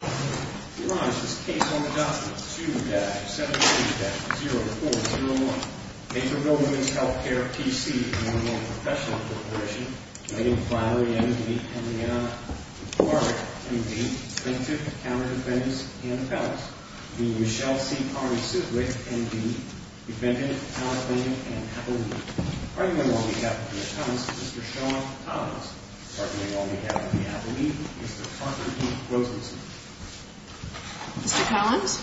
We rise to this case on the document 2-73-0401. Naperville Womens Healthcare, P.C., and the Normal Professional Corporation. Naming primary, M.D., and Lianna. Required, M.D., plaintiff, counter-defendants, and appellants. Naming Michelle C. Parry-Siswick, M.D., defendant, counter-defendant, and appellee. Arguing on behalf of the attorneys, Mr. Sean Collins. Arguing on behalf of the appellee, Mr. Arthur D. Rosenstein. Mr. Collins.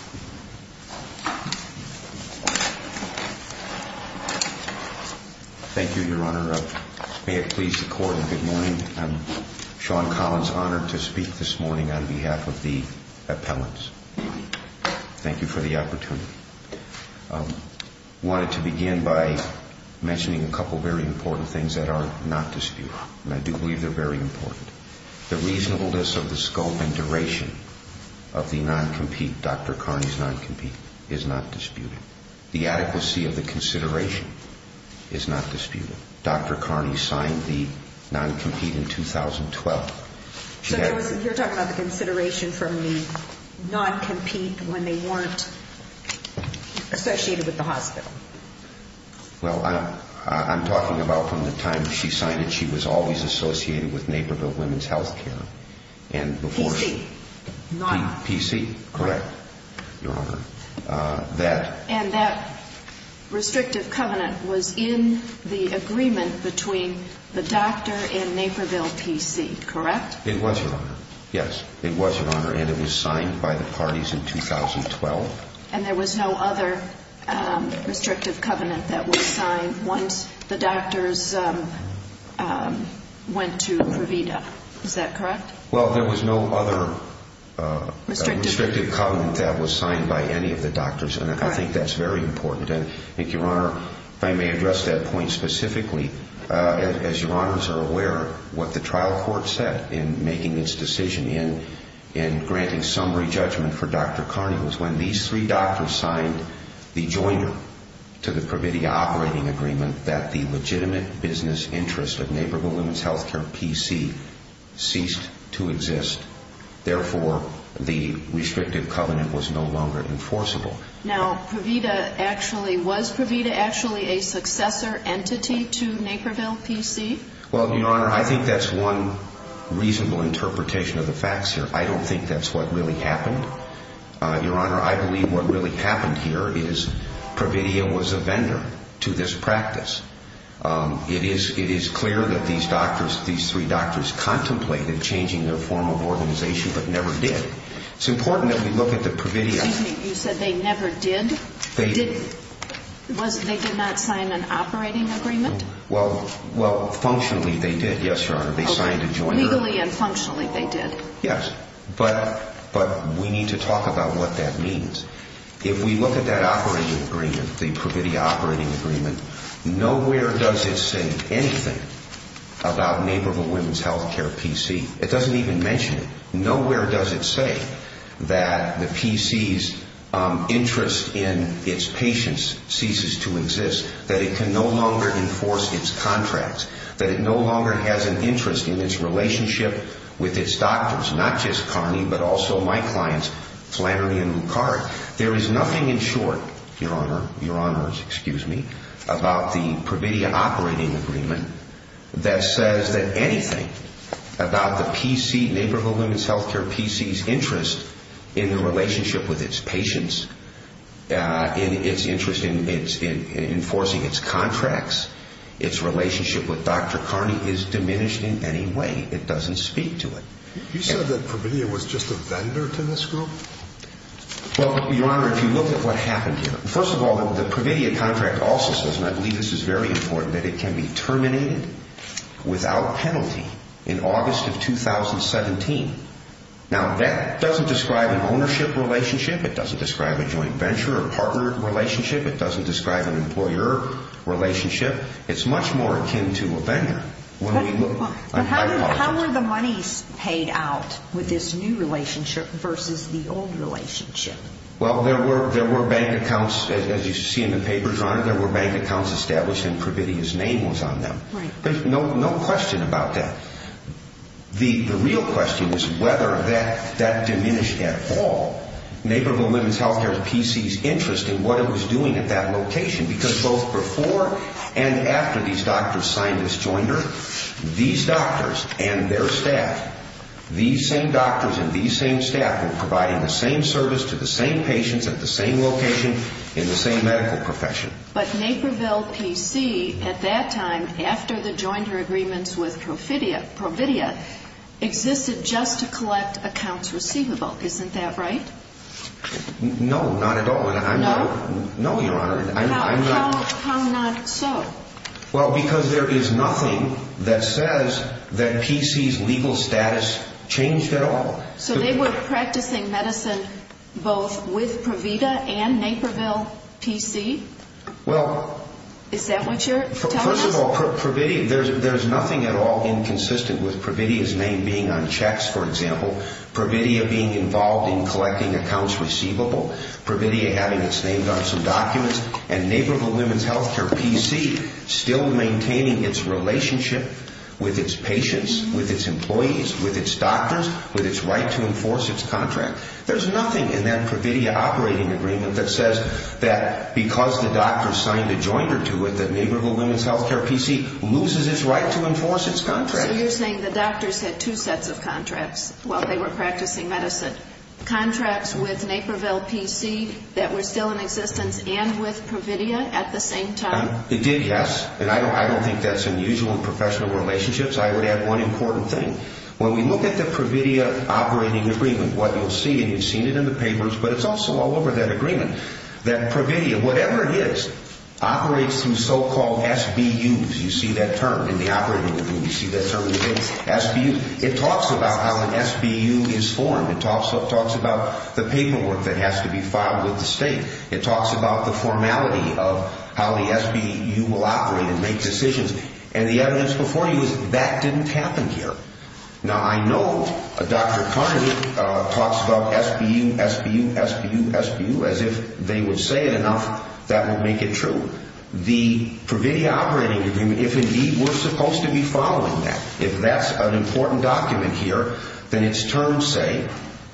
Thank you, Your Honor. May it please the Court, and good morning. I'm Sean Collins, honored to speak this morning on behalf of the appellants. Thank you for the opportunity. I wanted to begin by mentioning a couple of very important things that are not disputed. And I do believe they're very important. The reasonableness of the scope and duration of the non-compete, Dr. Carney's non-compete, is not disputed. The adequacy of the consideration is not disputed. Dr. Carney signed the non-compete in 2012. So you're talking about the consideration from the non-compete when they weren't associated with the hospital. Well, I'm talking about from the time she signed it, she was always associated with Naperville Women's Health Care. PC. PC, correct, Your Honor. And that restrictive covenant was in the agreement between the doctor and Naperville PC, correct? It was, Your Honor. Yes, it was, Your Honor. And it was signed by the parties in 2012. And there was no other restrictive covenant that was signed once the doctors went to Pravida. Is that correct? Well, there was no other restrictive covenant that was signed by any of the doctors, and I think that's very important. And I think, Your Honor, if I may address that point specifically, as Your Honors are aware, what the trial court said in making its decision in granting summary judgment for Dr. Carney was when these three doctors signed the joiner to the Pravida operating agreement that the legitimate business interest of Naperville Women's Health Care PC ceased to exist. Therefore, the restrictive covenant was no longer enforceable. Now, Pravida actually, was Pravida actually a successor entity to Naperville PC? Well, Your Honor, I think that's one reasonable interpretation of the facts here. I don't think that's what really happened. Your Honor, I believe what really happened here is Pravida was a vendor to this practice. It is clear that these doctors, these three doctors, contemplated changing their form of organization but never did. It's important that we look at the Pravida. Excuse me, you said they never did? They didn't. They did not sign an operating agreement? Well, functionally they did, yes, Your Honor. They signed a joiner. Legally and functionally they did. Yes, but we need to talk about what that means. If we look at that operating agreement, the Pravida operating agreement, nowhere does it say anything about Naperville Women's Health Care PC. It doesn't even mention it. Nowhere does it say that the PC's interest in its patients ceases to exist, that it can no longer enforce its contracts, that it no longer has an interest in its relationship with its doctors, not just Connie but also my clients, Flannery and Lucard. There is nothing in short, Your Honor, Your Honors, excuse me, about the Pravida operating agreement that says that anything about the PC, Naperville Women's Health Care PC's interest in the relationship with its patients, its interest in enforcing its contracts, its relationship with Dr. Carney is diminished in any way. It doesn't speak to it. You said that Pravida was just a vendor to this group? Well, Your Honor, if you look at what happened here, first of all the Pravida contract also says, and I believe this is very important, that it can be terminated without penalty in August of 2017. Now that doesn't describe an ownership relationship. It doesn't describe a joint venture or partner relationship. It doesn't describe an employer relationship. It's much more akin to a vendor. How were the monies paid out with this new relationship versus the old relationship? Well, there were bank accounts, as you see in the papers, Your Honor, there were bank accounts established and Pravida's name was on them. There's no question about that. The real question is whether that diminished at all Naperville Women's Health Care PC's interest in what it was doing at that location, because both before and after these doctors signed this jointer, these doctors and their staff, these same doctors and these same staff were providing the same service to the same patients at the same location in the same medical profession. But Naperville PC at that time, after the jointer agreements with Pravida, existed just to collect accounts receivable. Isn't that right? No, not at all. No? No, Your Honor. How not so? Well, because there is nothing that says that PC's legal status changed at all. So they were practicing medicine both with Pravida and Naperville PC? Well... Is that what you're telling us? First of all, there's nothing at all inconsistent with Pravida's name being on checks, for example, Pravida being involved in collecting accounts receivable, Pravida having its name on some documents, and Naperville Women's Health Care PC still maintaining its relationship with its patients, with its employees, with its doctors, with its right to enforce its contract. There's nothing in that Pravida operating agreement that says that because the doctor signed a jointer to it that Naperville Women's Health Care PC loses its right to enforce its contract. So you're saying the doctors had two sets of contracts while they were practicing medicine, contracts with Naperville PC that were still in existence and with Pravida at the same time? It did, yes. And I don't think that's unusual in professional relationships. I would add one important thing. When we look at the Pravida operating agreement, what you'll see, and you've seen it in the papers, but it's also all over that agreement, that Pravida, whatever it is, operates through so-called SBUs. You see that term in the operating agreement. You see that term in the papers. SBU. It talks about how an SBU is formed. It talks about the paperwork that has to be filed with the state. It talks about the formality of how the SBU will operate and make decisions. And the evidence before you is that didn't happen here. Now, I know Dr. Carnegie talks about SBU, SBU, SBU, SBU. As if they would say it enough, that would make it true. The Pravida operating agreement, if indeed we're supposed to be following that, if that's an important document here, then its terms say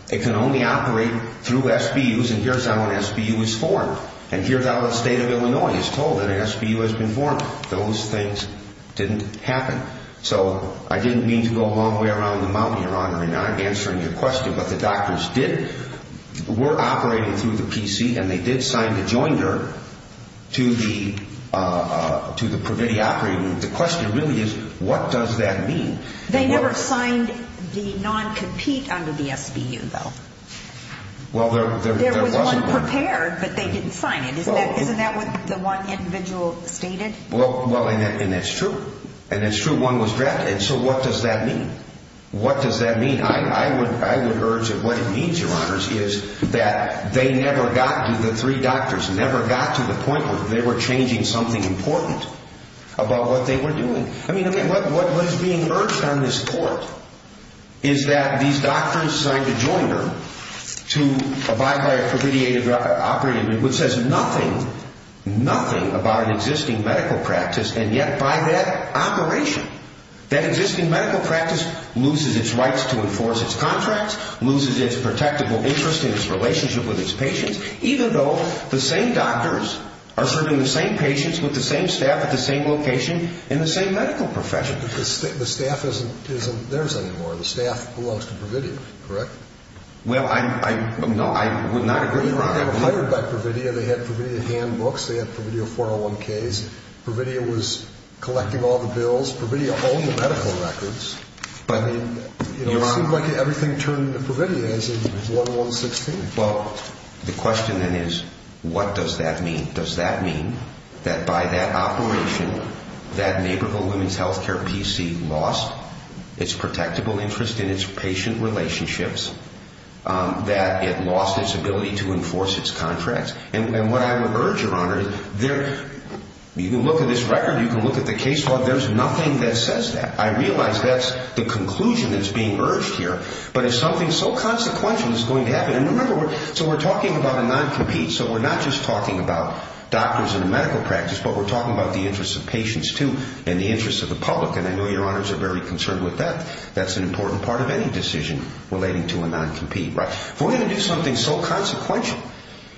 it can only operate through SBUs, and here's how an SBU is formed. And here's how the state of Illinois is told that an SBU has been formed. Those things didn't happen. So I didn't mean to go all the way around the mountain, Your Honor, in answering your question, but the doctors were operating through the PC, and they did sign the joinder to the Pravida operating agreement. The question really is, what does that mean? They never signed the non-compete under the SBU, though. Well, there was one. There was one prepared, but they didn't sign it. Isn't that what the one individual stated? Well, and that's true. And it's true, one was drafted. So what does that mean? What does that mean? I would urge that what it means, Your Honors, is that they never got to the three doctors, never got to the point where they were changing something important about what they were doing. I mean, what is being urged on this court is that these doctors signed a joinder to abide by a Pravida operating agreement which says nothing, nothing about an existing medical practice, and yet by that operation, that existing medical practice loses its rights to enforce its contracts, loses its protectable interest in its relationship with its patients, even though the same doctors are serving the same patients with the same staff at the same location in the same medical profession. But the staff isn't theirs anymore. The staff belongs to Pravida, correct? Well, I would not agree, Your Honor. They were hired by Pravida. They had Pravida handbooks. They had Pravida 401Ks. Pravida was collecting all the bills. Pravida owned the medical records. But, I mean, it seems like everything turned to Pravida as in 1116. Well, the question then is what does that mean? Does that mean that by that operation, that neighborhood women's health care PC lost its protectable interest in its patient relationships, that it lost its ability to enforce its contracts? And what I would urge, Your Honor, you can look at this record. You can look at the case log. There's nothing that says that. I realize that's the conclusion that's being urged here. But if something so consequential is going to happen, and remember, so we're talking about a non-compete. So we're not just talking about doctors in the medical practice, but we're talking about the interest of patients too and the interest of the public, and I know Your Honors are very concerned with that. That's an important part of any decision relating to a non-compete, right? If we're going to do something so consequential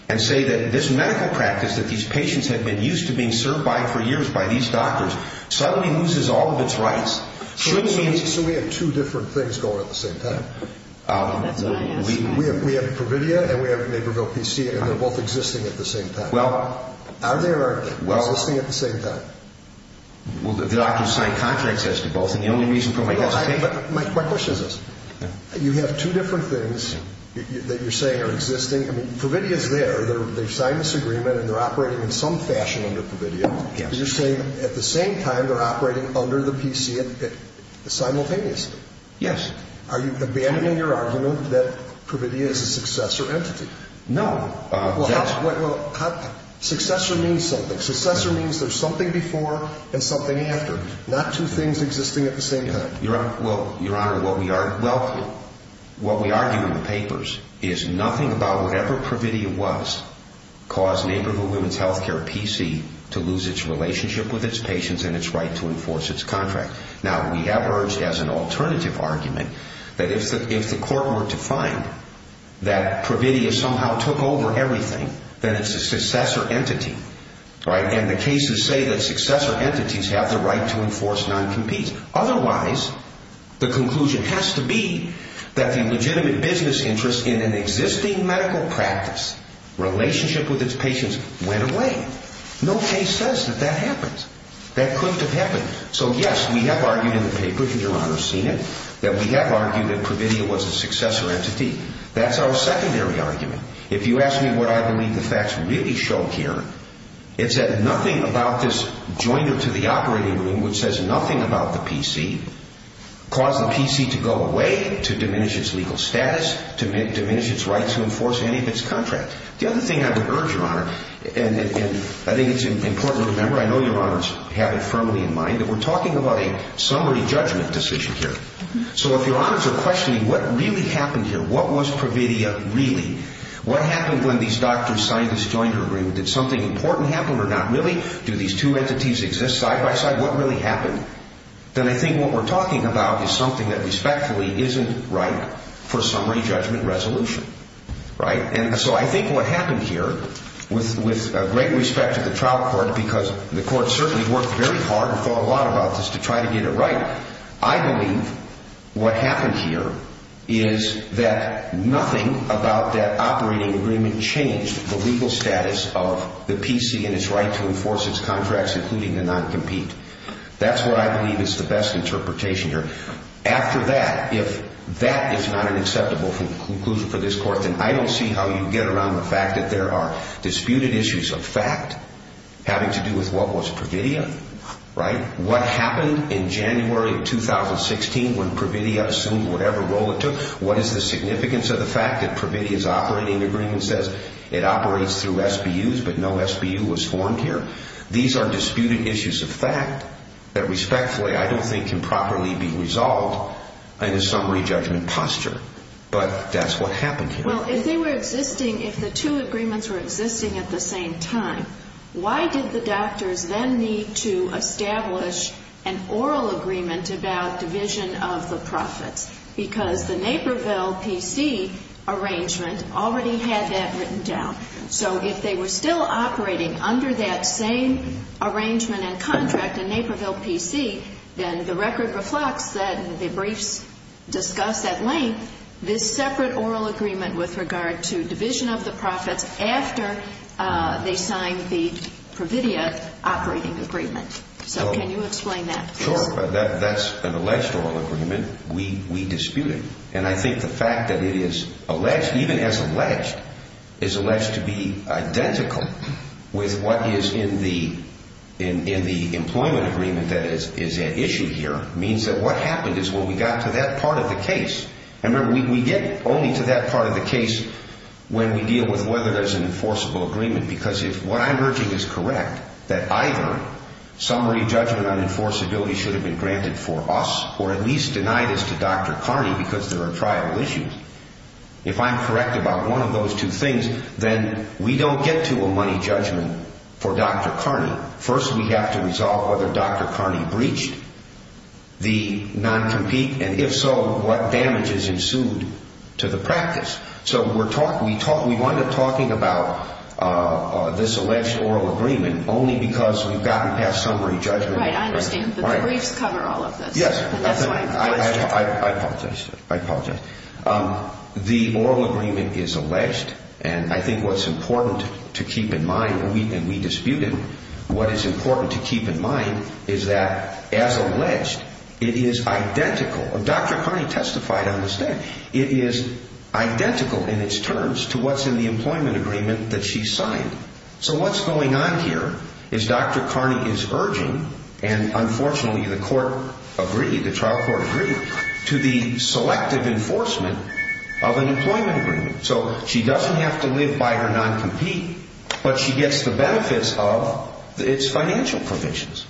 and say that this medical practice that these patients have been used to being served by for years by these doctors suddenly loses all of its rights, shouldn't we? So we have two different things going at the same time. We have Pravida and we have Neighborville PC, and they're both existing at the same time. Well. Are they or aren't they? Well. Existing at the same time. Well, the doctors signed contracts as to both. My question is this. You have two different things that you're saying are existing. I mean, Pravida is there. They've signed this agreement and they're operating in some fashion under Pravida. Yes. But you're saying at the same time they're operating under the PC simultaneously. Yes. Are you abandoning your argument that Pravida is a successor entity? No. Well, how? Successor means something. Successor means there's something before and something after. Not two things existing at the same time. Well, Your Honor, what we argue in the papers is nothing about whatever Pravida was caused Neighborville Women's Health Care PC to lose its relationship with its patients and its right to enforce its contract. Now, we have urged as an alternative argument that if the court were to find that Pravida somehow took over everything, then it's a successor entity, right? And the cases say that successor entities have the right to enforce non-competes. Otherwise, the conclusion has to be that the legitimate business interest in an existing medical practice relationship with its patients went away. No case says that that happens. That couldn't have happened. So, yes, we have argued in the paper, because Your Honor's seen it, that we have argued that Pravida was a successor entity. That's our secondary argument. If you ask me what I believe the facts really show here, it's that nothing about this jointer to the operating room, which says nothing about the PC, caused the PC to go away, to diminish its legal status, to diminish its right to enforce any of its contracts. The other thing I would urge, Your Honor, and I think it's important to remember, I know Your Honors have it firmly in mind, that we're talking about a summary judgment decision here. So if Your Honors are questioning what really happened here, what was Pravida really, what happened when these doctors, scientists joined her room? Did something important happen or not really? Do these two entities exist side by side? What really happened? Then I think what we're talking about is something that respectfully isn't right for summary judgment resolution, right? And so I think what happened here, with great respect to the trial court, because the court certainly worked very hard and thought a lot about this to try to get it right, I believe what happened here is that nothing about that operating agreement changed the legal status of the PC and its right to enforce its contracts, including the non-compete. That's what I believe is the best interpretation here. After that, if that is not an acceptable conclusion for this court, then I don't see how you get around the fact that there are disputed issues of fact having to do with what was Pravida, right? What happened in January of 2016 when Pravida assumed whatever role it took? What is the significance of the fact that Pravida's operating agreement says it operates through SBUs but no SBU was formed here? These are disputed issues of fact that respectfully I don't think can properly be resolved in a summary judgment posture, but that's what happened here. Well, if they were existing, if the two agreements were existing at the same time, why did the oral agreement about division of the profits? Because the Naperville PC arrangement already had that written down. So if they were still operating under that same arrangement and contract in Naperville PC, then the record reflects that the briefs discuss at length this separate oral agreement with regard to division of the profits after they signed the Pravida operating agreement. So can you explain that, please? Sure, but that's an alleged oral agreement. We dispute it. And I think the fact that it is alleged, even as alleged, is alleged to be identical with what is in the employment agreement that is at issue here means that what happened is what we got to that part of the case. And remember, we get only to that part of the case when we deal with whether there's an enforceable agreement. Because if what I'm urging is correct, that either summary judgment on enforceability should have been granted for us or at least denied as to Dr. Carney because there are trial issues, if I'm correct about one of those two things, then we don't get to a money judgment for Dr. Carney. First, we have to resolve whether Dr. Carney breached the non-compete, and if so, what damages ensued to the practice. So we wind up talking about this alleged oral agreement only because we've gotten past summary judgment. Right, I understand. The briefs cover all of this. Yes. That's why I'm asking. I apologize. I apologize. The oral agreement is alleged, and I think what's important to keep in mind, and we dispute it, what is important to keep in mind is that as alleged, it is identical. Dr. Carney testified on this day. It is identical in its terms to what's in the employment agreement that she signed. So what's going on here is Dr. Carney is urging, and unfortunately the court agreed, the trial court agreed, to the selective enforcement of an employment agreement. So she doesn't have to live by her non-compete, but she gets the benefits of its financial provisions.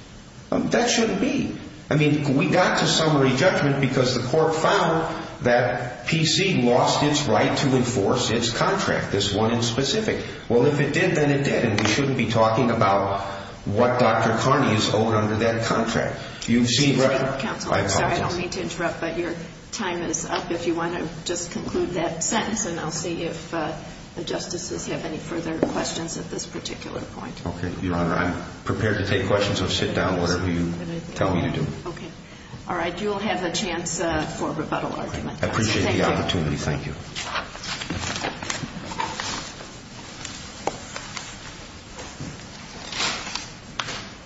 That shouldn't be. I mean, we got to summary judgment because the court found that PC lost its right to enforce its contract, this one in specific. Well, if it did, then it did, and we shouldn't be talking about what Dr. Carney is owed under that contract. Excuse me, counsel. I apologize. I don't mean to interrupt, but your time is up if you want to just conclude that sentence, and I'll see if the justices have any further questions at this particular point. Okay, Your Honor. I'm prepared to take questions, so sit down, whatever you tell me to do. Okay. All right. You'll have a chance for a rebuttal argument. Thank you. I appreciate the opportunity. Thank you.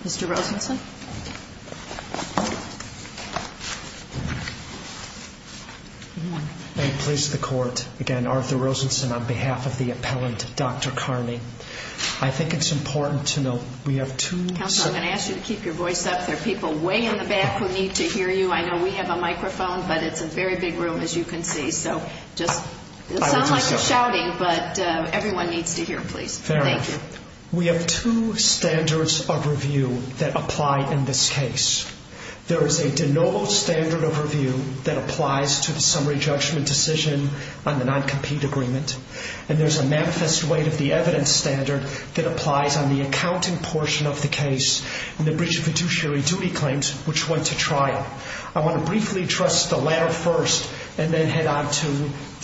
Mr. Rosenson. Good morning. May it please the Court, again, Arthur Rosenson on behalf of the appellant, Dr. Carney. I think it's important to note we have two... Counsel, I'm going to ask you to keep your voice up. There are people way in the back who need to hear you. I know we have a microphone, but it's a very big room, as you can see, so just... It sounds like you're shouting, but everyone needs to hear, please. Thank you. We have two standards of review that apply in this case. There is a de novo standard of review that applies to the summary judgment decision on the non-compete agreement, and there's a manifest weight of the evidence standard that applies on the accounting portion of the case and the breach of fiduciary duty claims, which went to trial. I want to briefly address the latter first and then head on to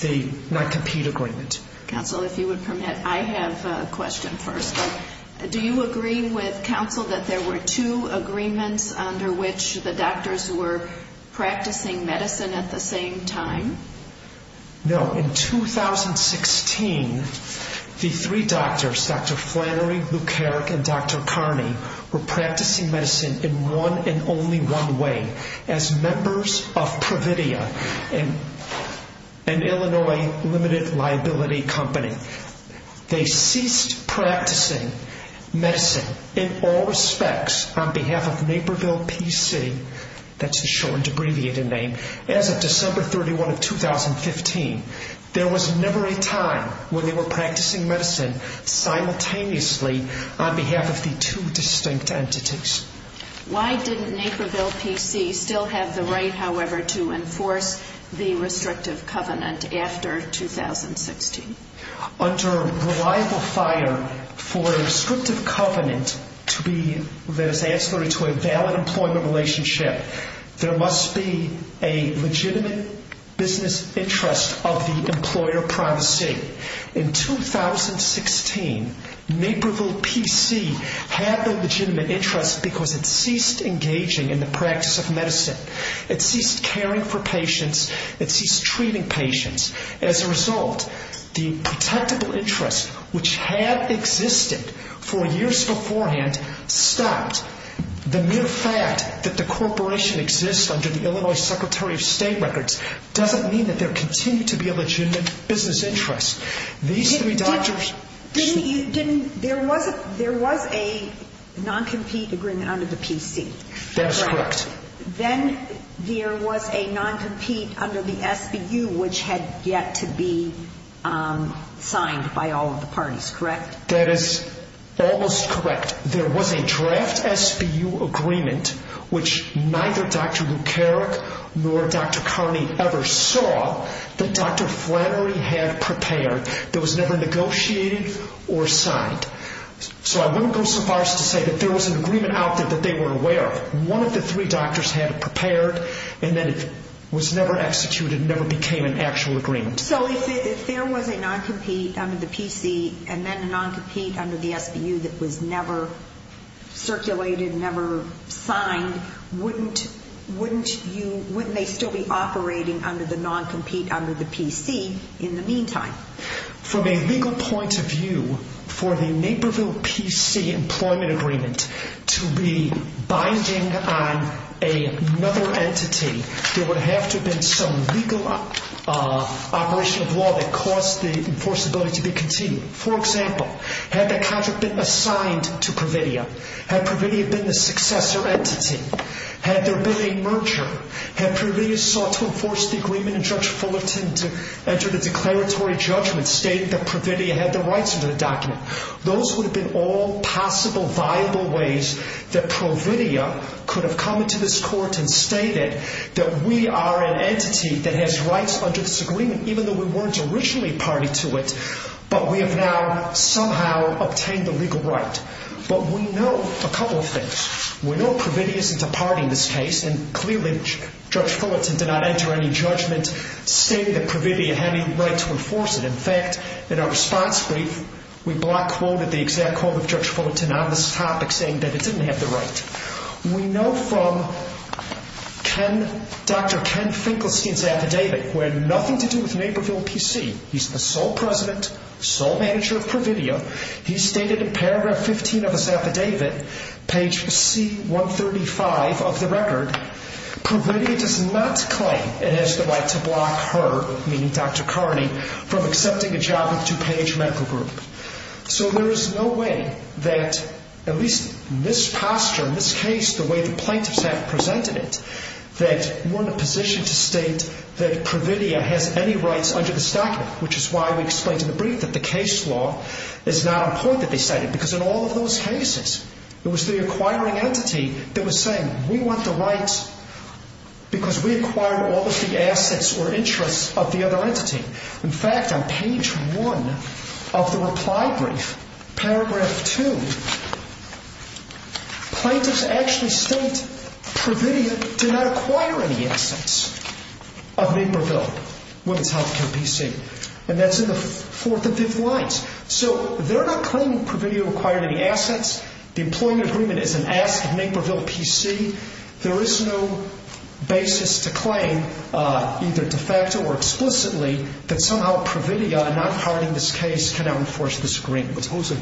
the non-compete agreement. Counsel, if you would permit, I have a question first. Do you agree with counsel that there were two agreements under which the doctors were practicing medicine at the same time? No. In 2016, the three doctors, Dr. Flannery, Luke Herrick, and Dr. Carney, were practicing medicine in one and only one way, as members of Pravidia, an Illinois limited liability company. They ceased practicing medicine in all respects on behalf of Naperville Peace City. That's a short and abbreviated name. As of December 31, 2015, there was never a time when they were practicing medicine simultaneously on behalf of the two distinct entities. Why didn't Naperville Peace City still have the right, however, to enforce the restrictive covenant after 2016? Under reliable fire for a restrictive covenant to be that is ancillary to a valid employment relationship, there must be a legitimate business interest of the employer privacy. In 2016, Naperville Peace City had the legitimate interest because it ceased engaging in the practice of medicine. It ceased caring for patients. It ceased treating patients. As a result, the protectable interest, which had existed for years beforehand, stopped. The mere fact that the corporation exists under the Illinois Secretary of State records doesn't mean that there continues to be a legitimate business interest. These three doctors... There was a non-compete agreement under the PC, correct? That is correct. Then there was a non-compete under the SBU, which had yet to be signed by all of the parties, correct? That is almost correct. But there was a draft SBU agreement, which neither Dr. Lukerek nor Dr. Carney ever saw, that Dr. Flannery had prepared that was never negotiated or signed. So I wouldn't go so far as to say that there was an agreement out there that they weren't aware of. One of the three doctors had it prepared, and then it was never executed and never became an actual agreement. So if there was a non-compete under the PC and then a non-compete under the SBU that was never circulated, never signed, wouldn't they still be operating under the non-compete under the PC in the meantime? From a legal point of view, for the Naperville PC employment agreement to be binding on another entity, there would have to have been some legal operation of law that caused the enforceability to be continued. For example, had that contract been assigned to Providia? Had Providia been the successor entity? Had there been a merger? Had Providia sought to enforce the agreement and Judge Fullerton entered a declaratory judgment stating that Providia had the rights under the document? Those would have been all possible viable ways that Providia could have come into this court and stated that we are an entity that has rights under this agreement, even though we weren't originally party to it, but we have now somehow obtained the legal right. But we know a couple of things. We know Providia isn't a party in this case, and clearly Judge Fullerton did not enter any judgment stating that Providia had any right to enforce it. In fact, in our response brief, we block quoted the exact quote of Judge Fullerton on this topic saying that it didn't have the right. We know from Dr. Ken Finkelstein's affidavit, who had nothing to do with Naperville PC, he's the sole president, sole manager of Providia, he stated in paragraph 15 of his affidavit, page C-135 of the record, Providia does not claim it has the right to block her, meaning Dr. Carney, from accepting a job with DuPage Medical Group. So there is no way that, at least in this posture, in this case, the way the plaintiffs have presented it, that we're in a position to state that Providia has any rights under this document, which is why we explained in the brief that the case law is not important that they cite it, because in all of those cases, it was the acquiring entity that was saying, we want the rights because we acquired all of the assets or interests of the other entity. In fact, on page 1 of the reply brief, paragraph 2, plaintiffs actually state Providia did not acquire any assets of Naperville Women's Healthcare PC, and that's in the fourth and fifth lines. So they're not claiming Providia acquired any assets, the employment agreement is an basis to claim, either de facto or explicitly, that somehow Providia, not acquiring this case, cannot enforce this agreement. The opposing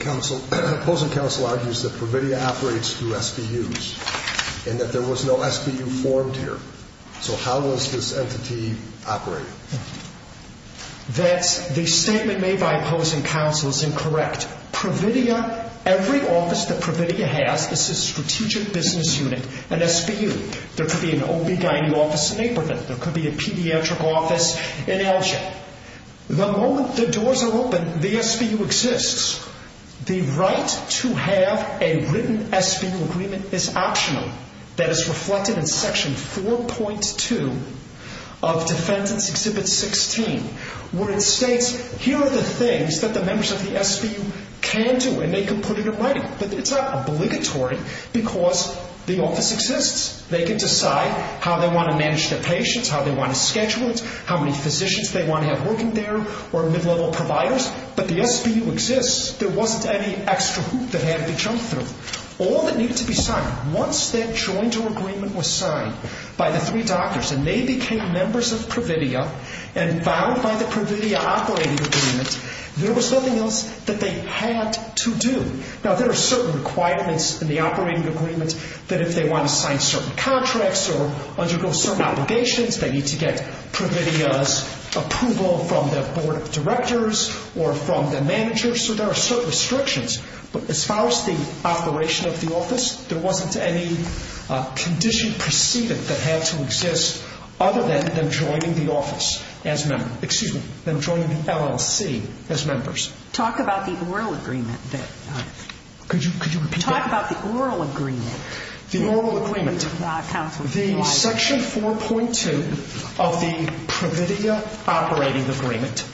counsel argues that Providia operates through SBUs, and that there was no SBU formed here. So how was this entity operated? That's, the statement made by opposing counsel is incorrect. Providia, every office that Providia has is a strategic business unit, an SBU. There could be an OB-GYN office in Aberdeen. There could be a pediatric office in Elgin. The moment the doors are open, the SBU exists. The right to have a written SBU agreement is optional. That is reflected in section 4.2 of Defendant's Exhibit 16, where it states, here are the things that the members of the SBU can do, and they can put it in writing. But it's not obligatory, because the office exists. They can decide how they want to manage their patients, how they want to schedule it, how many physicians they want to have working there, or mid-level providers. But the SBU exists. There wasn't any extra hoop that had to be jumped through. All that needed to be signed, once that joint agreement was signed by the three doctors, and they became members of Providia, and bound by the Providia operating agreement, there was nothing else that they had to do. Now, there are certain requirements in the operating agreement, that if they want to sign certain contracts, or undergo certain obligations, they need to get Providia's approval from their board of directors, or from their managers. So there are certain restrictions. But as far as the operation of the office, there wasn't any condition preceded that had to exist, other than them joining the office as members. Excuse me, them joining the LLC as members. Talk about the oral agreement. Could you repeat that? Talk about the oral agreement. The oral agreement. The section 4.2 of the Providia operating agreement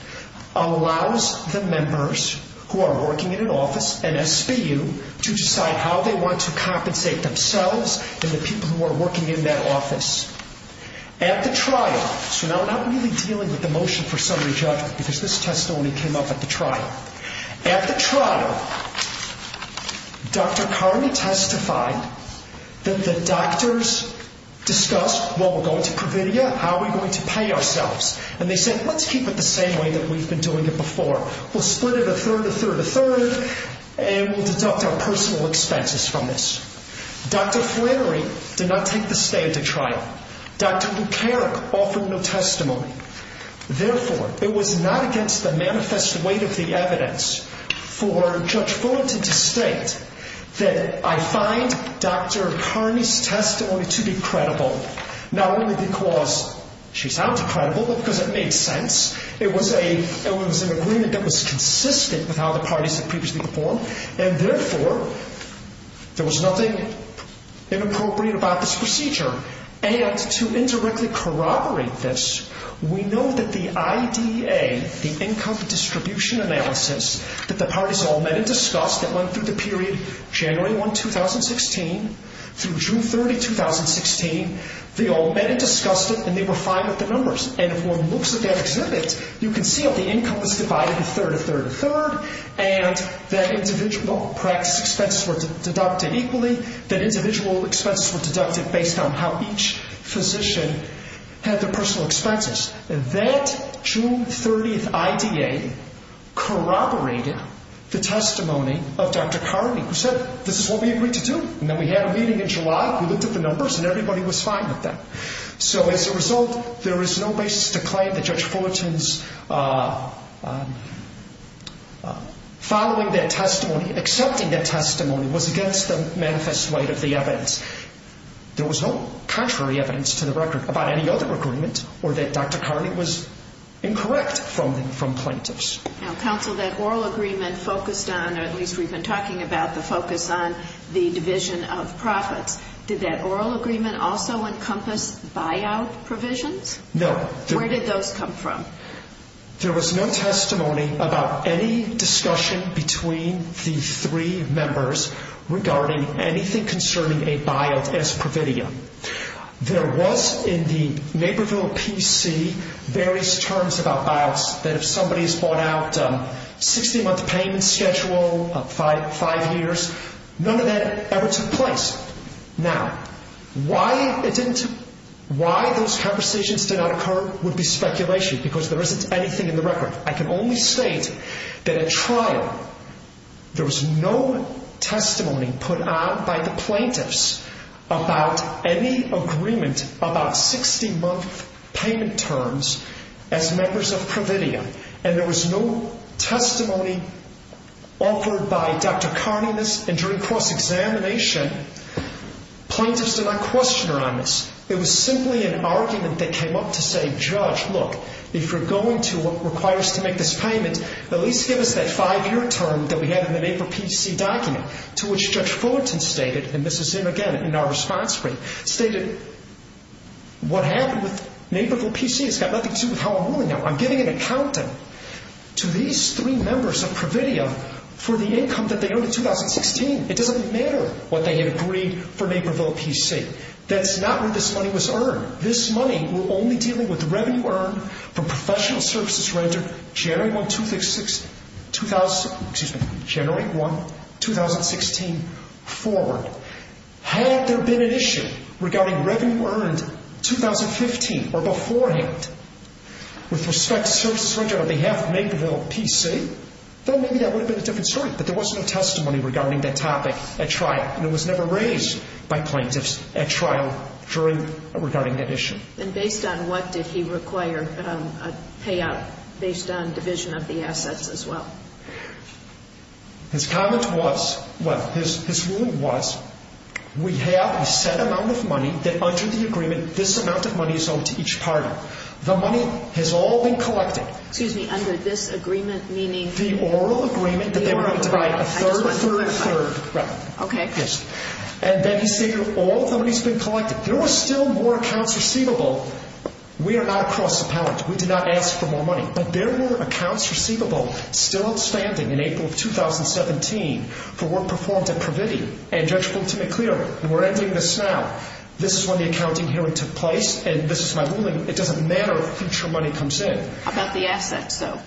allows the members who are working in an office, and SBU, to decide how they want to compensate themselves and the people who are working in that office. At the trial, so now we're not really dealing with the motion for summary judgment, because this testimony came up at the trial. At the trial, Dr. Carney testified that the doctors discussed, well, we're going to Providia, how are we going to pay ourselves? And they said, let's keep it the same way that we've been doing it before. We'll split it a third, a third, a third, and we'll deduct our personal expenses from this. Dr. Flannery did not take the stand at trial. Dr. McCarrick offered no testimony. Therefore, it was not against the manifest weight of the evidence for Judge Fullerton to state that I find Dr. Carney's testimony to be credible, not only because she sounds credible, but because it made sense. It was an agreement that was consistent with how the parties had previously performed. And therefore, there was nothing inappropriate about this procedure. And to indirectly corroborate this, we know that the IDA, the income distribution analysis that the parties all met and discussed that went through the period January 1, 2016, through June 30, 2016, they all met and discussed it, and they were fine with the numbers. And if one looks at that exhibit, you can see that the income was divided a third, a third, a third, and that individual practice expenses were deducted equally, that individual expenses were deducted based on how each physician had their personal expenses. That June 30th IDA corroborated the testimony of Dr. Carney, who said, this is what we agreed to do. And then we had a meeting in July, we looked at the numbers, and everybody was fine with that. So as a result, there is no basis to claim that Judge Fullerton's following that testimony, accepting that testimony, was against the manifest light of the evidence. There was no contrary evidence to the record about any other agreement or that Dr. Carney was incorrect from plaintiffs. Now, counsel, that oral agreement focused on, or at least we've been talking about, the focus on the division of profits. Did that oral agreement also encompass buyout provisions? No. Where did those come from? There was no testimony about any discussion between the three members regarding anything concerning a buyout as providium. There was in the Naperville PC various terms about buyouts, that if somebody's bought out a 60-month payment schedule, five years, none of that ever took place. Now, why those conversations did not occur would be speculation, because there isn't anything in the record. I can only state that at trial, there was no testimony put on by the plaintiffs about any agreement about 60-month payment terms as members of providium, and there was no Plaintiffs did not question her on this. It was simply an argument that came up to say, Judge, look, if you're going to require us to make this payment, at least give us that five-year term that we had in the Naperville PC document, to which Judge Fullerton stated, and this is him again in our response brief, stated, what happened with Naperville PC has got nothing to do with how I'm ruling now. I'm giving an accountant to these three members of providium for the income that they agreed for Naperville PC. That's not where this money was earned. This money will only deal with the revenue earned from professional services rendered January 1, 2016 forward. Had there been an issue regarding revenue earned 2015 or beforehand with respect to services rendered on behalf of Naperville PC, then maybe that would have been a different story, but there was no testimony regarding that topic at trial, and it was never raised by plaintiffs at trial regarding that issue. And based on what did he require a payout based on division of the assets as well? His comment was, well, his ruling was, we have a set amount of money that under the agreement, this amount of money is owed to each party. The money has all been collected. Excuse me, under this agreement, meaning? The oral agreement that they were going to provide a third, third, third revenue. Okay. Yes. And then he said, all the money has been collected. There were still more accounts receivable. We are not a cross appellant. We did not ask for more money, but there were accounts receivable still outstanding in April of 2017 for work performed at providium. And Judge Fulton McClure, and we're ending this now, this is when the accounting hearing took place, and this is my ruling. It doesn't matter if future money comes in. How about the assets, though?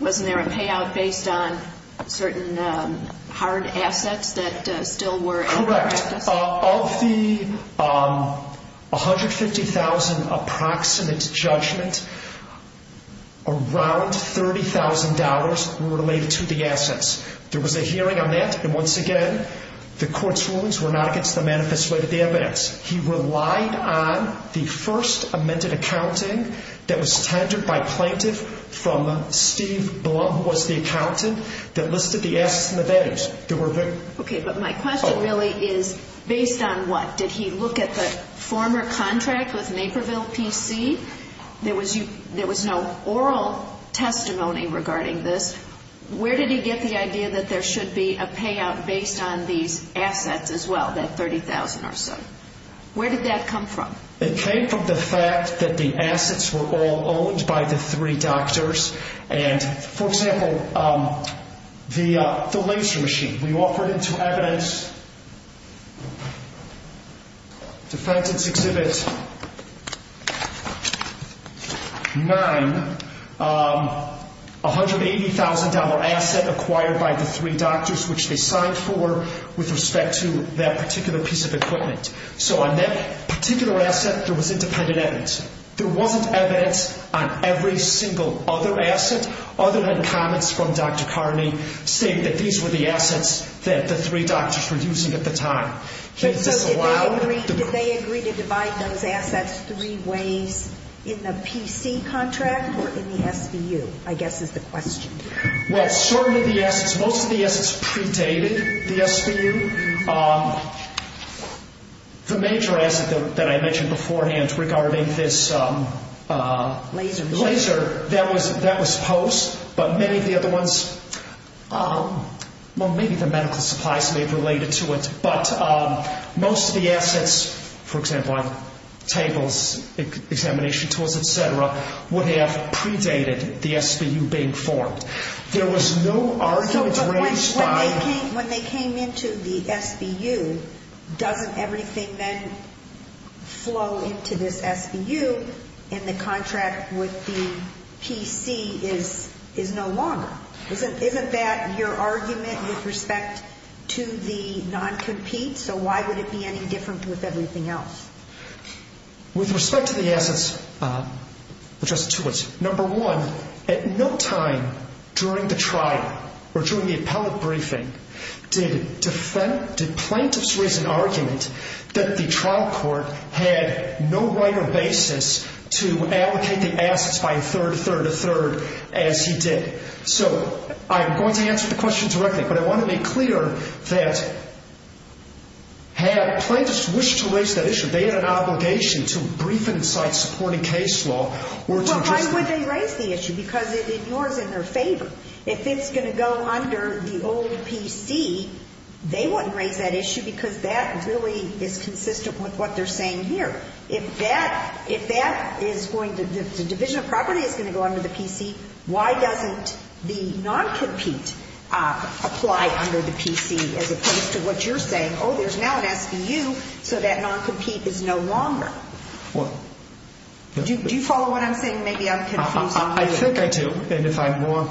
Wasn't there a payout based on certain hard assets that still were in practice? Correct. Of the $150,000 approximate judgment, around $30,000 were related to the assets. There was a hearing on that, and once again, the court's rulings were not against the manifest weight of the evidence. He relied on the first amended accounting that was tendered by a plaintiff from Steve Blum, who was the accountant, that listed the assets and the values. Okay, but my question really is, based on what? Did he look at the former contract with Naperville PC? There was no oral testimony regarding this. Where did he get the idea that there should be a payout based on these assets as well, that $30,000 or so? Where did that come from? It came from the fact that the assets were all owned by the three doctors. For example, the laser machine. We offered it to evidence, defendant's exhibit 9, $180,000 asset acquired by the three doctors, which they signed for with respect to that particular piece of equipment. So on that particular asset, there was independent evidence. There wasn't evidence on every single other asset, other than comments from Dr. Carney saying that these were the assets that the three doctors were using at the time. Did they agree to divide those assets three ways in the PC contract or in the SVU, I guess is the question. Well, certainly the assets, most of the assets predated the SVU. The major asset that I mentioned beforehand regarding this laser, that was posed. But many of the other ones, well, maybe the medical supplies may have related to it. But most of the assets, for example, tables, examination tools, et cetera, would have predated the SVU being formed. There was no argument raised by... So when they came into the SVU, doesn't everything then flow into this SVU, and the contract with the PC is no longer? Isn't that your argument with respect to the non-compete? So why would it be any different with everything else? With respect to the assets addressed to us, number one, at no time during the trial or during the appellate briefing did plaintiffs raise an argument that the trial court had no right or basis to allocate the assets by a third, third, or third as he did. So I'm going to answer the question directly, but I want to be clear that had plaintiffs wished to raise that issue, they had an obligation to brief and cite supporting case law. Well, why would they raise the issue? Because it ignores in their favor. If it's going to go under the old PC, they wouldn't raise that issue because that really is consistent with what they're saying here. If the division of property is going to go under the PC, why doesn't the non-compete apply under the PC as opposed to what you're saying? Oh, there's now an SVU, so that non-compete is no longer. Do you follow what I'm saying? Maybe I'm confusing you. I think I do, and if I'm wrong,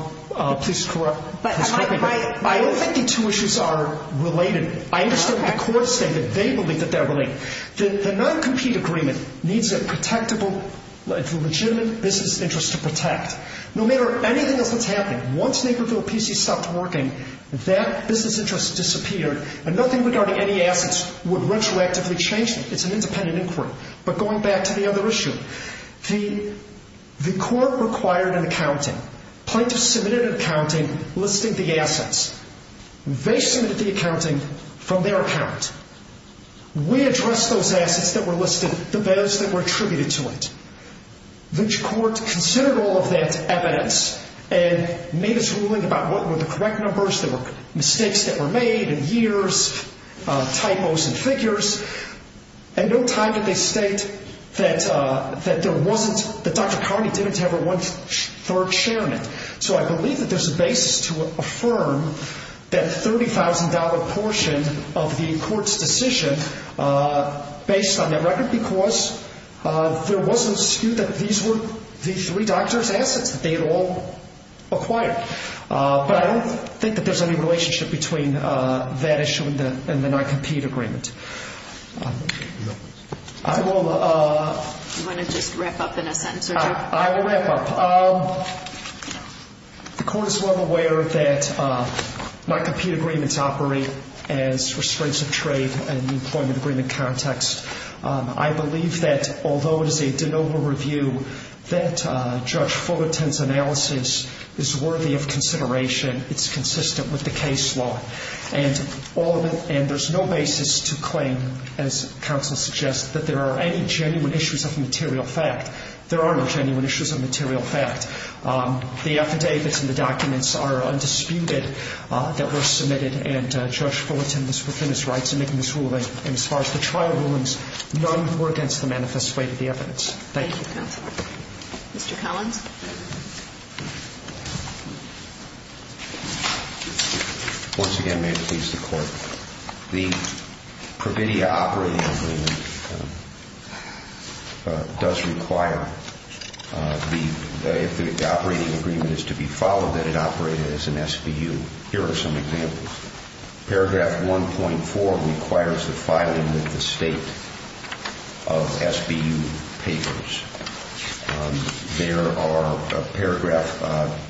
please correct me. I don't think the two issues are related. I understand what the courts say, but they believe that they're related. The non-compete agreement needs a protectable, legitimate business interest to protect. No matter anything else that's happening, once Naperville PC stopped working, that business interest disappeared, and nothing regarding any assets would retroactively change them. It's an independent inquiry. But going back to the other issue, the court required an accounting. Plaintiffs submitted an accounting listing the assets. They submitted the accounting from their account. We addressed those assets that were listed, the bids that were attributed to it. The court considered all of that evidence and made its ruling about what were the correct numbers, the mistakes that were made in years, typos and figures, and no time did they state that there wasn't, that Dr. Carney didn't have her one-third share in it. So I believe that there's a basis to affirm that $30,000 portion of the court's decision based on that record because there was no skew that these were the three doctors' assets that they had all acquired. But I don't think that there's any relationship between that issue and the non-compete agreement. Do you want to just wrap up in a sentence? I will wrap up. The court is well aware that non-compete agreements operate as restraints of trade in the employment agreement context. I believe that although it is a de novo review, that Judge Fullerton's analysis is worthy of consideration. It's consistent with the case law. And there's no basis to claim, as counsel suggests, that there are any genuine issues of material fact. There are no genuine issues of material fact. The affidavits and the documents are undisputed that were submitted, and Judge Fullerton was within his rights in making this ruling. And as far as the trial rulings, none were against the manifest weight of the evidence. Thank you. Thank you, counsel. Mr. Collins? Once again, may it please the Court, the Pravidia operating agreement does require if the operating agreement is to be followed that it operate as an SBU. Here are some examples. Paragraph 1.4 requires the filing of the state of SBU papers. There are paragraph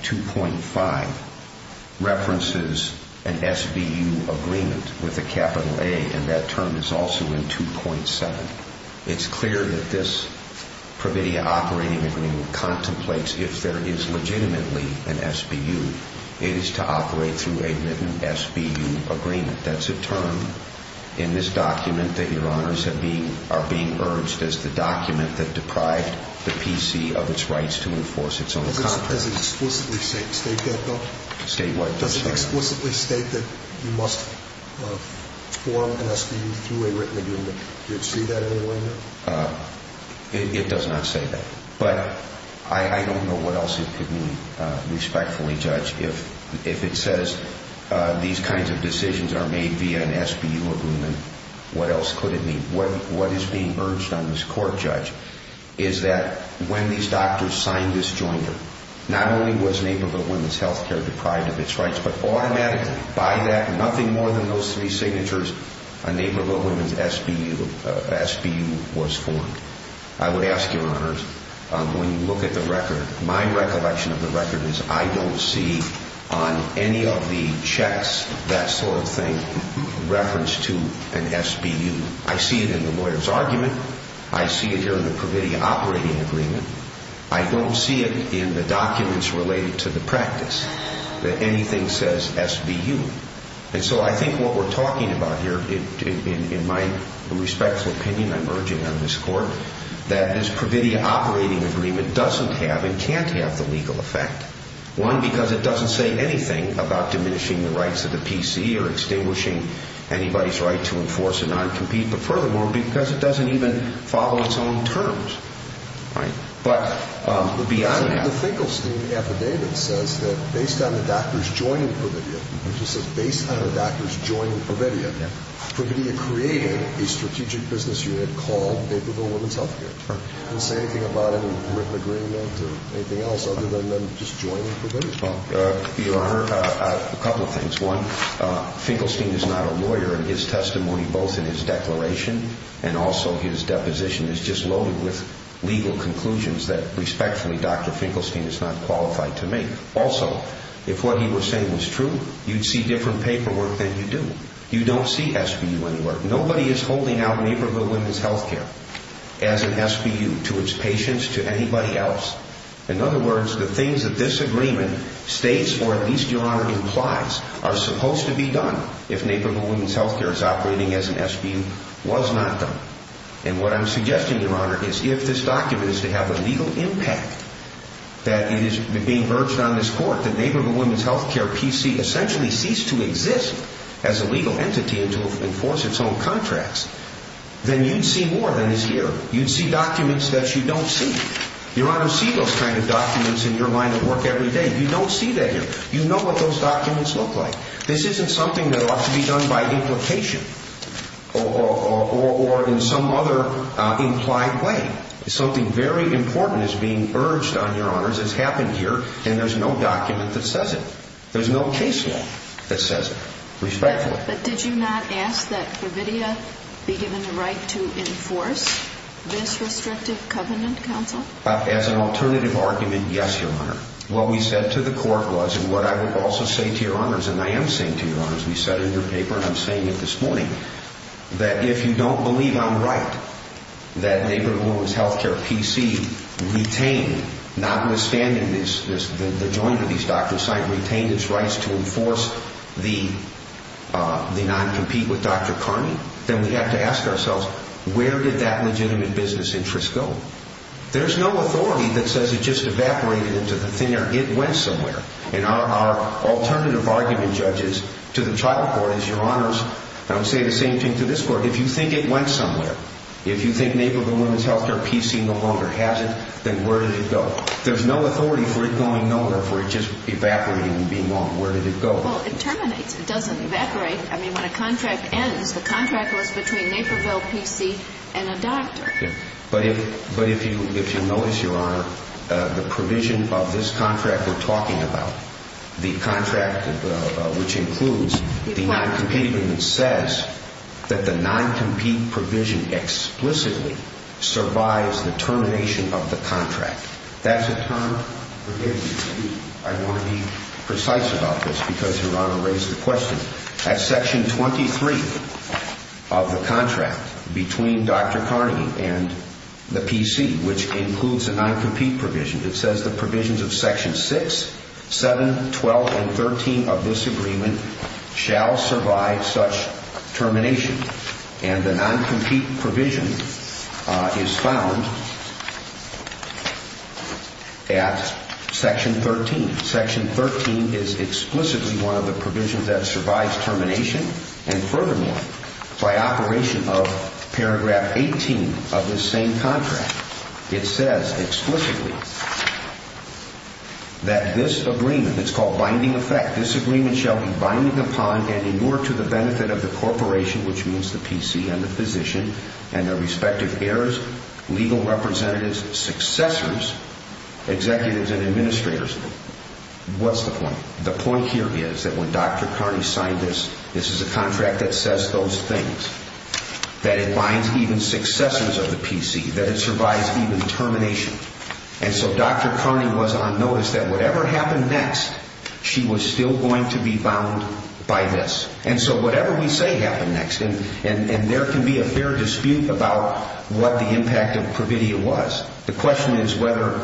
2.5 references an SBU agreement with a capital A, and that term is also in 2.7. It's clear that this Pravidia operating agreement contemplates if there is legitimately an SBU. It is to operate through a written SBU agreement. That's a term in this document that Your Honors are being urged as the document that deprived the PC of its rights to enforce its own contract. Does it explicitly state that, though? State what? Does it explicitly state that you must form an SBU through a written agreement? Do you see that in any way, no? It does not say that. But I don't know what else it could mean, respectfully, Judge. If it says these kinds of decisions are made via an SBU agreement, what else could it mean? What is being urged on this Court, Judge, is that when these doctors signed this jointer, not only was Naperville Women's Health Care deprived of its rights, but automatically, by that, nothing more than those three signatures, a Naperville Women's SBU was formed. I would ask, Your Honors, when you look at the record, my recollection of the record is I don't see on any of the checks that sort of thing referenced to an SBU. I see it in the lawyer's argument. I see it here in the Pravidia operating agreement. I don't see it in the documents related to the practice, that anything says SBU. And so I think what we're talking about here, in my respectful opinion, I'm urging on this Court, that this Pravidia operating agreement doesn't have and can't have the legal effect. One, because it doesn't say anything about diminishing the rights of the PC or extinguishing anybody's right to enforce a non-compete, but furthermore, because it doesn't even follow its own terms. But beyond that. The Finkelstein affidavit says that based on the doctors joining Pravidia, which it says based on the doctors joining Pravidia, Pravidia created a strategic business unit called Naperville Women's Health Care. It doesn't say anything about it in the written agreement or anything else other than them just joining Pravidia. Your Honor, a couple of things. One, Finkelstein is not a lawyer in his testimony, both in his declaration and also his deposition is just loaded with legal conclusions that respectfully Dr. Finkelstein is not qualified to make. Also, if what he was saying was true, you'd see different paperwork than you do. You don't see SBU anywhere. Nobody is holding out Naperville Women's Health Care as an SBU to its patients, to anybody else. In other words, the things that this agreement states or at least, Your Honor, implies are supposed to be done if Naperville Women's Health Care is operating as an SBU was not done. And what I'm suggesting, Your Honor, is if this document is to have a legal impact, that it is being verged on in this court that Naperville Women's Health Care, PC, essentially ceased to exist as a legal entity and to enforce its own contracts, then you'd see more than is here. You'd see documents that you don't see. Your Honor, see those kind of documents in your line of work every day. You don't see that here. You know what those documents look like. This isn't something that ought to be done by implication or in some other implied way. Something very important is being verged on, Your Honors, has happened here, and there's no document that says it. There's no case law that says it, respectfully. But did you not ask that Providia be given the right to enforce this restrictive covenant, Counsel? As an alternative argument, yes, Your Honor. What we said to the court was, and what I would also say to Your Honors, and I am saying to Your Honors, we said in your paper, and I'm saying it this morning, that if you don't believe I'm right that Naperville Women's Health Care, PC, notwithstanding the joint of these documents, retain its rights to enforce the non-compete with Dr. Carney, then we have to ask ourselves, where did that legitimate business interest go? There's no authority that says it just evaporated into the thin air. It went somewhere. And our alternative argument, Judges, to the trial court is, Your Honors, and I'm saying the same thing to this court, if you think it went somewhere, if you think Naperville Women's Health Care, PC, no longer has it, then where did it go? There's no authority for it going nowhere, for it just evaporating and being gone. Where did it go? Well, it terminates. It doesn't evaporate. I mean, when a contract ends, the contract was between Naperville, PC, and a doctor. But if you notice, Your Honor, the provision of this contract we're talking about, the contract which includes the non-compete agreement, says that the non-compete provision explicitly survives the termination of the contract. That's a term? Forgive me. I want to be precise about this because Your Honor raised the question. At Section 23 of the contract between Dr. Carney and the PC, which includes a non-compete provision, it says the provisions of Section 6, 7, 12, and 13 of this agreement shall survive such termination. And the non-compete provision is found at Section 13. Section 13 is explicitly one of the provisions that survives termination, and furthermore, by operation of paragraph 18 of this same contract, it says explicitly that this agreement, it's called binding effect, this agreement shall be binding upon and in order to the benefit of the corporation, which means the PC and the physician and their respective heirs, legal representatives, successors, executives, and administrators. What's the point? The point here is that when Dr. Carney signed this, this is a contract that says those things, that it binds even successors of the PC, that it survives even termination. And so Dr. Carney was on notice that whatever happened next, she was still going to be bound by this. And so whatever we say happened next, and there can be a fair dispute about what the impact of Pravidia was. The question is whether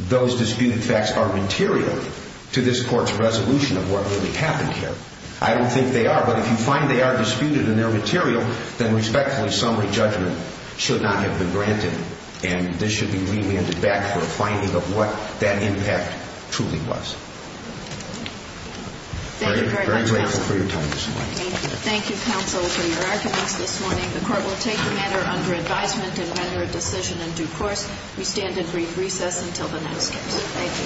those disputed facts are material to this Court's resolution of what really happened here. I don't think they are, but if you find they are disputed in their material, then respectfully summary judgment should not have been granted, and this should be re-landed back for a finding of what that impact truly was. Thank you very much, counsel. I'm very grateful for your time this morning. Thank you. Thank you, counsel, for your arguments this morning. The Court will take the matter under advisement and render a decision in due course. We stand in brief recess until the next case. Thank you.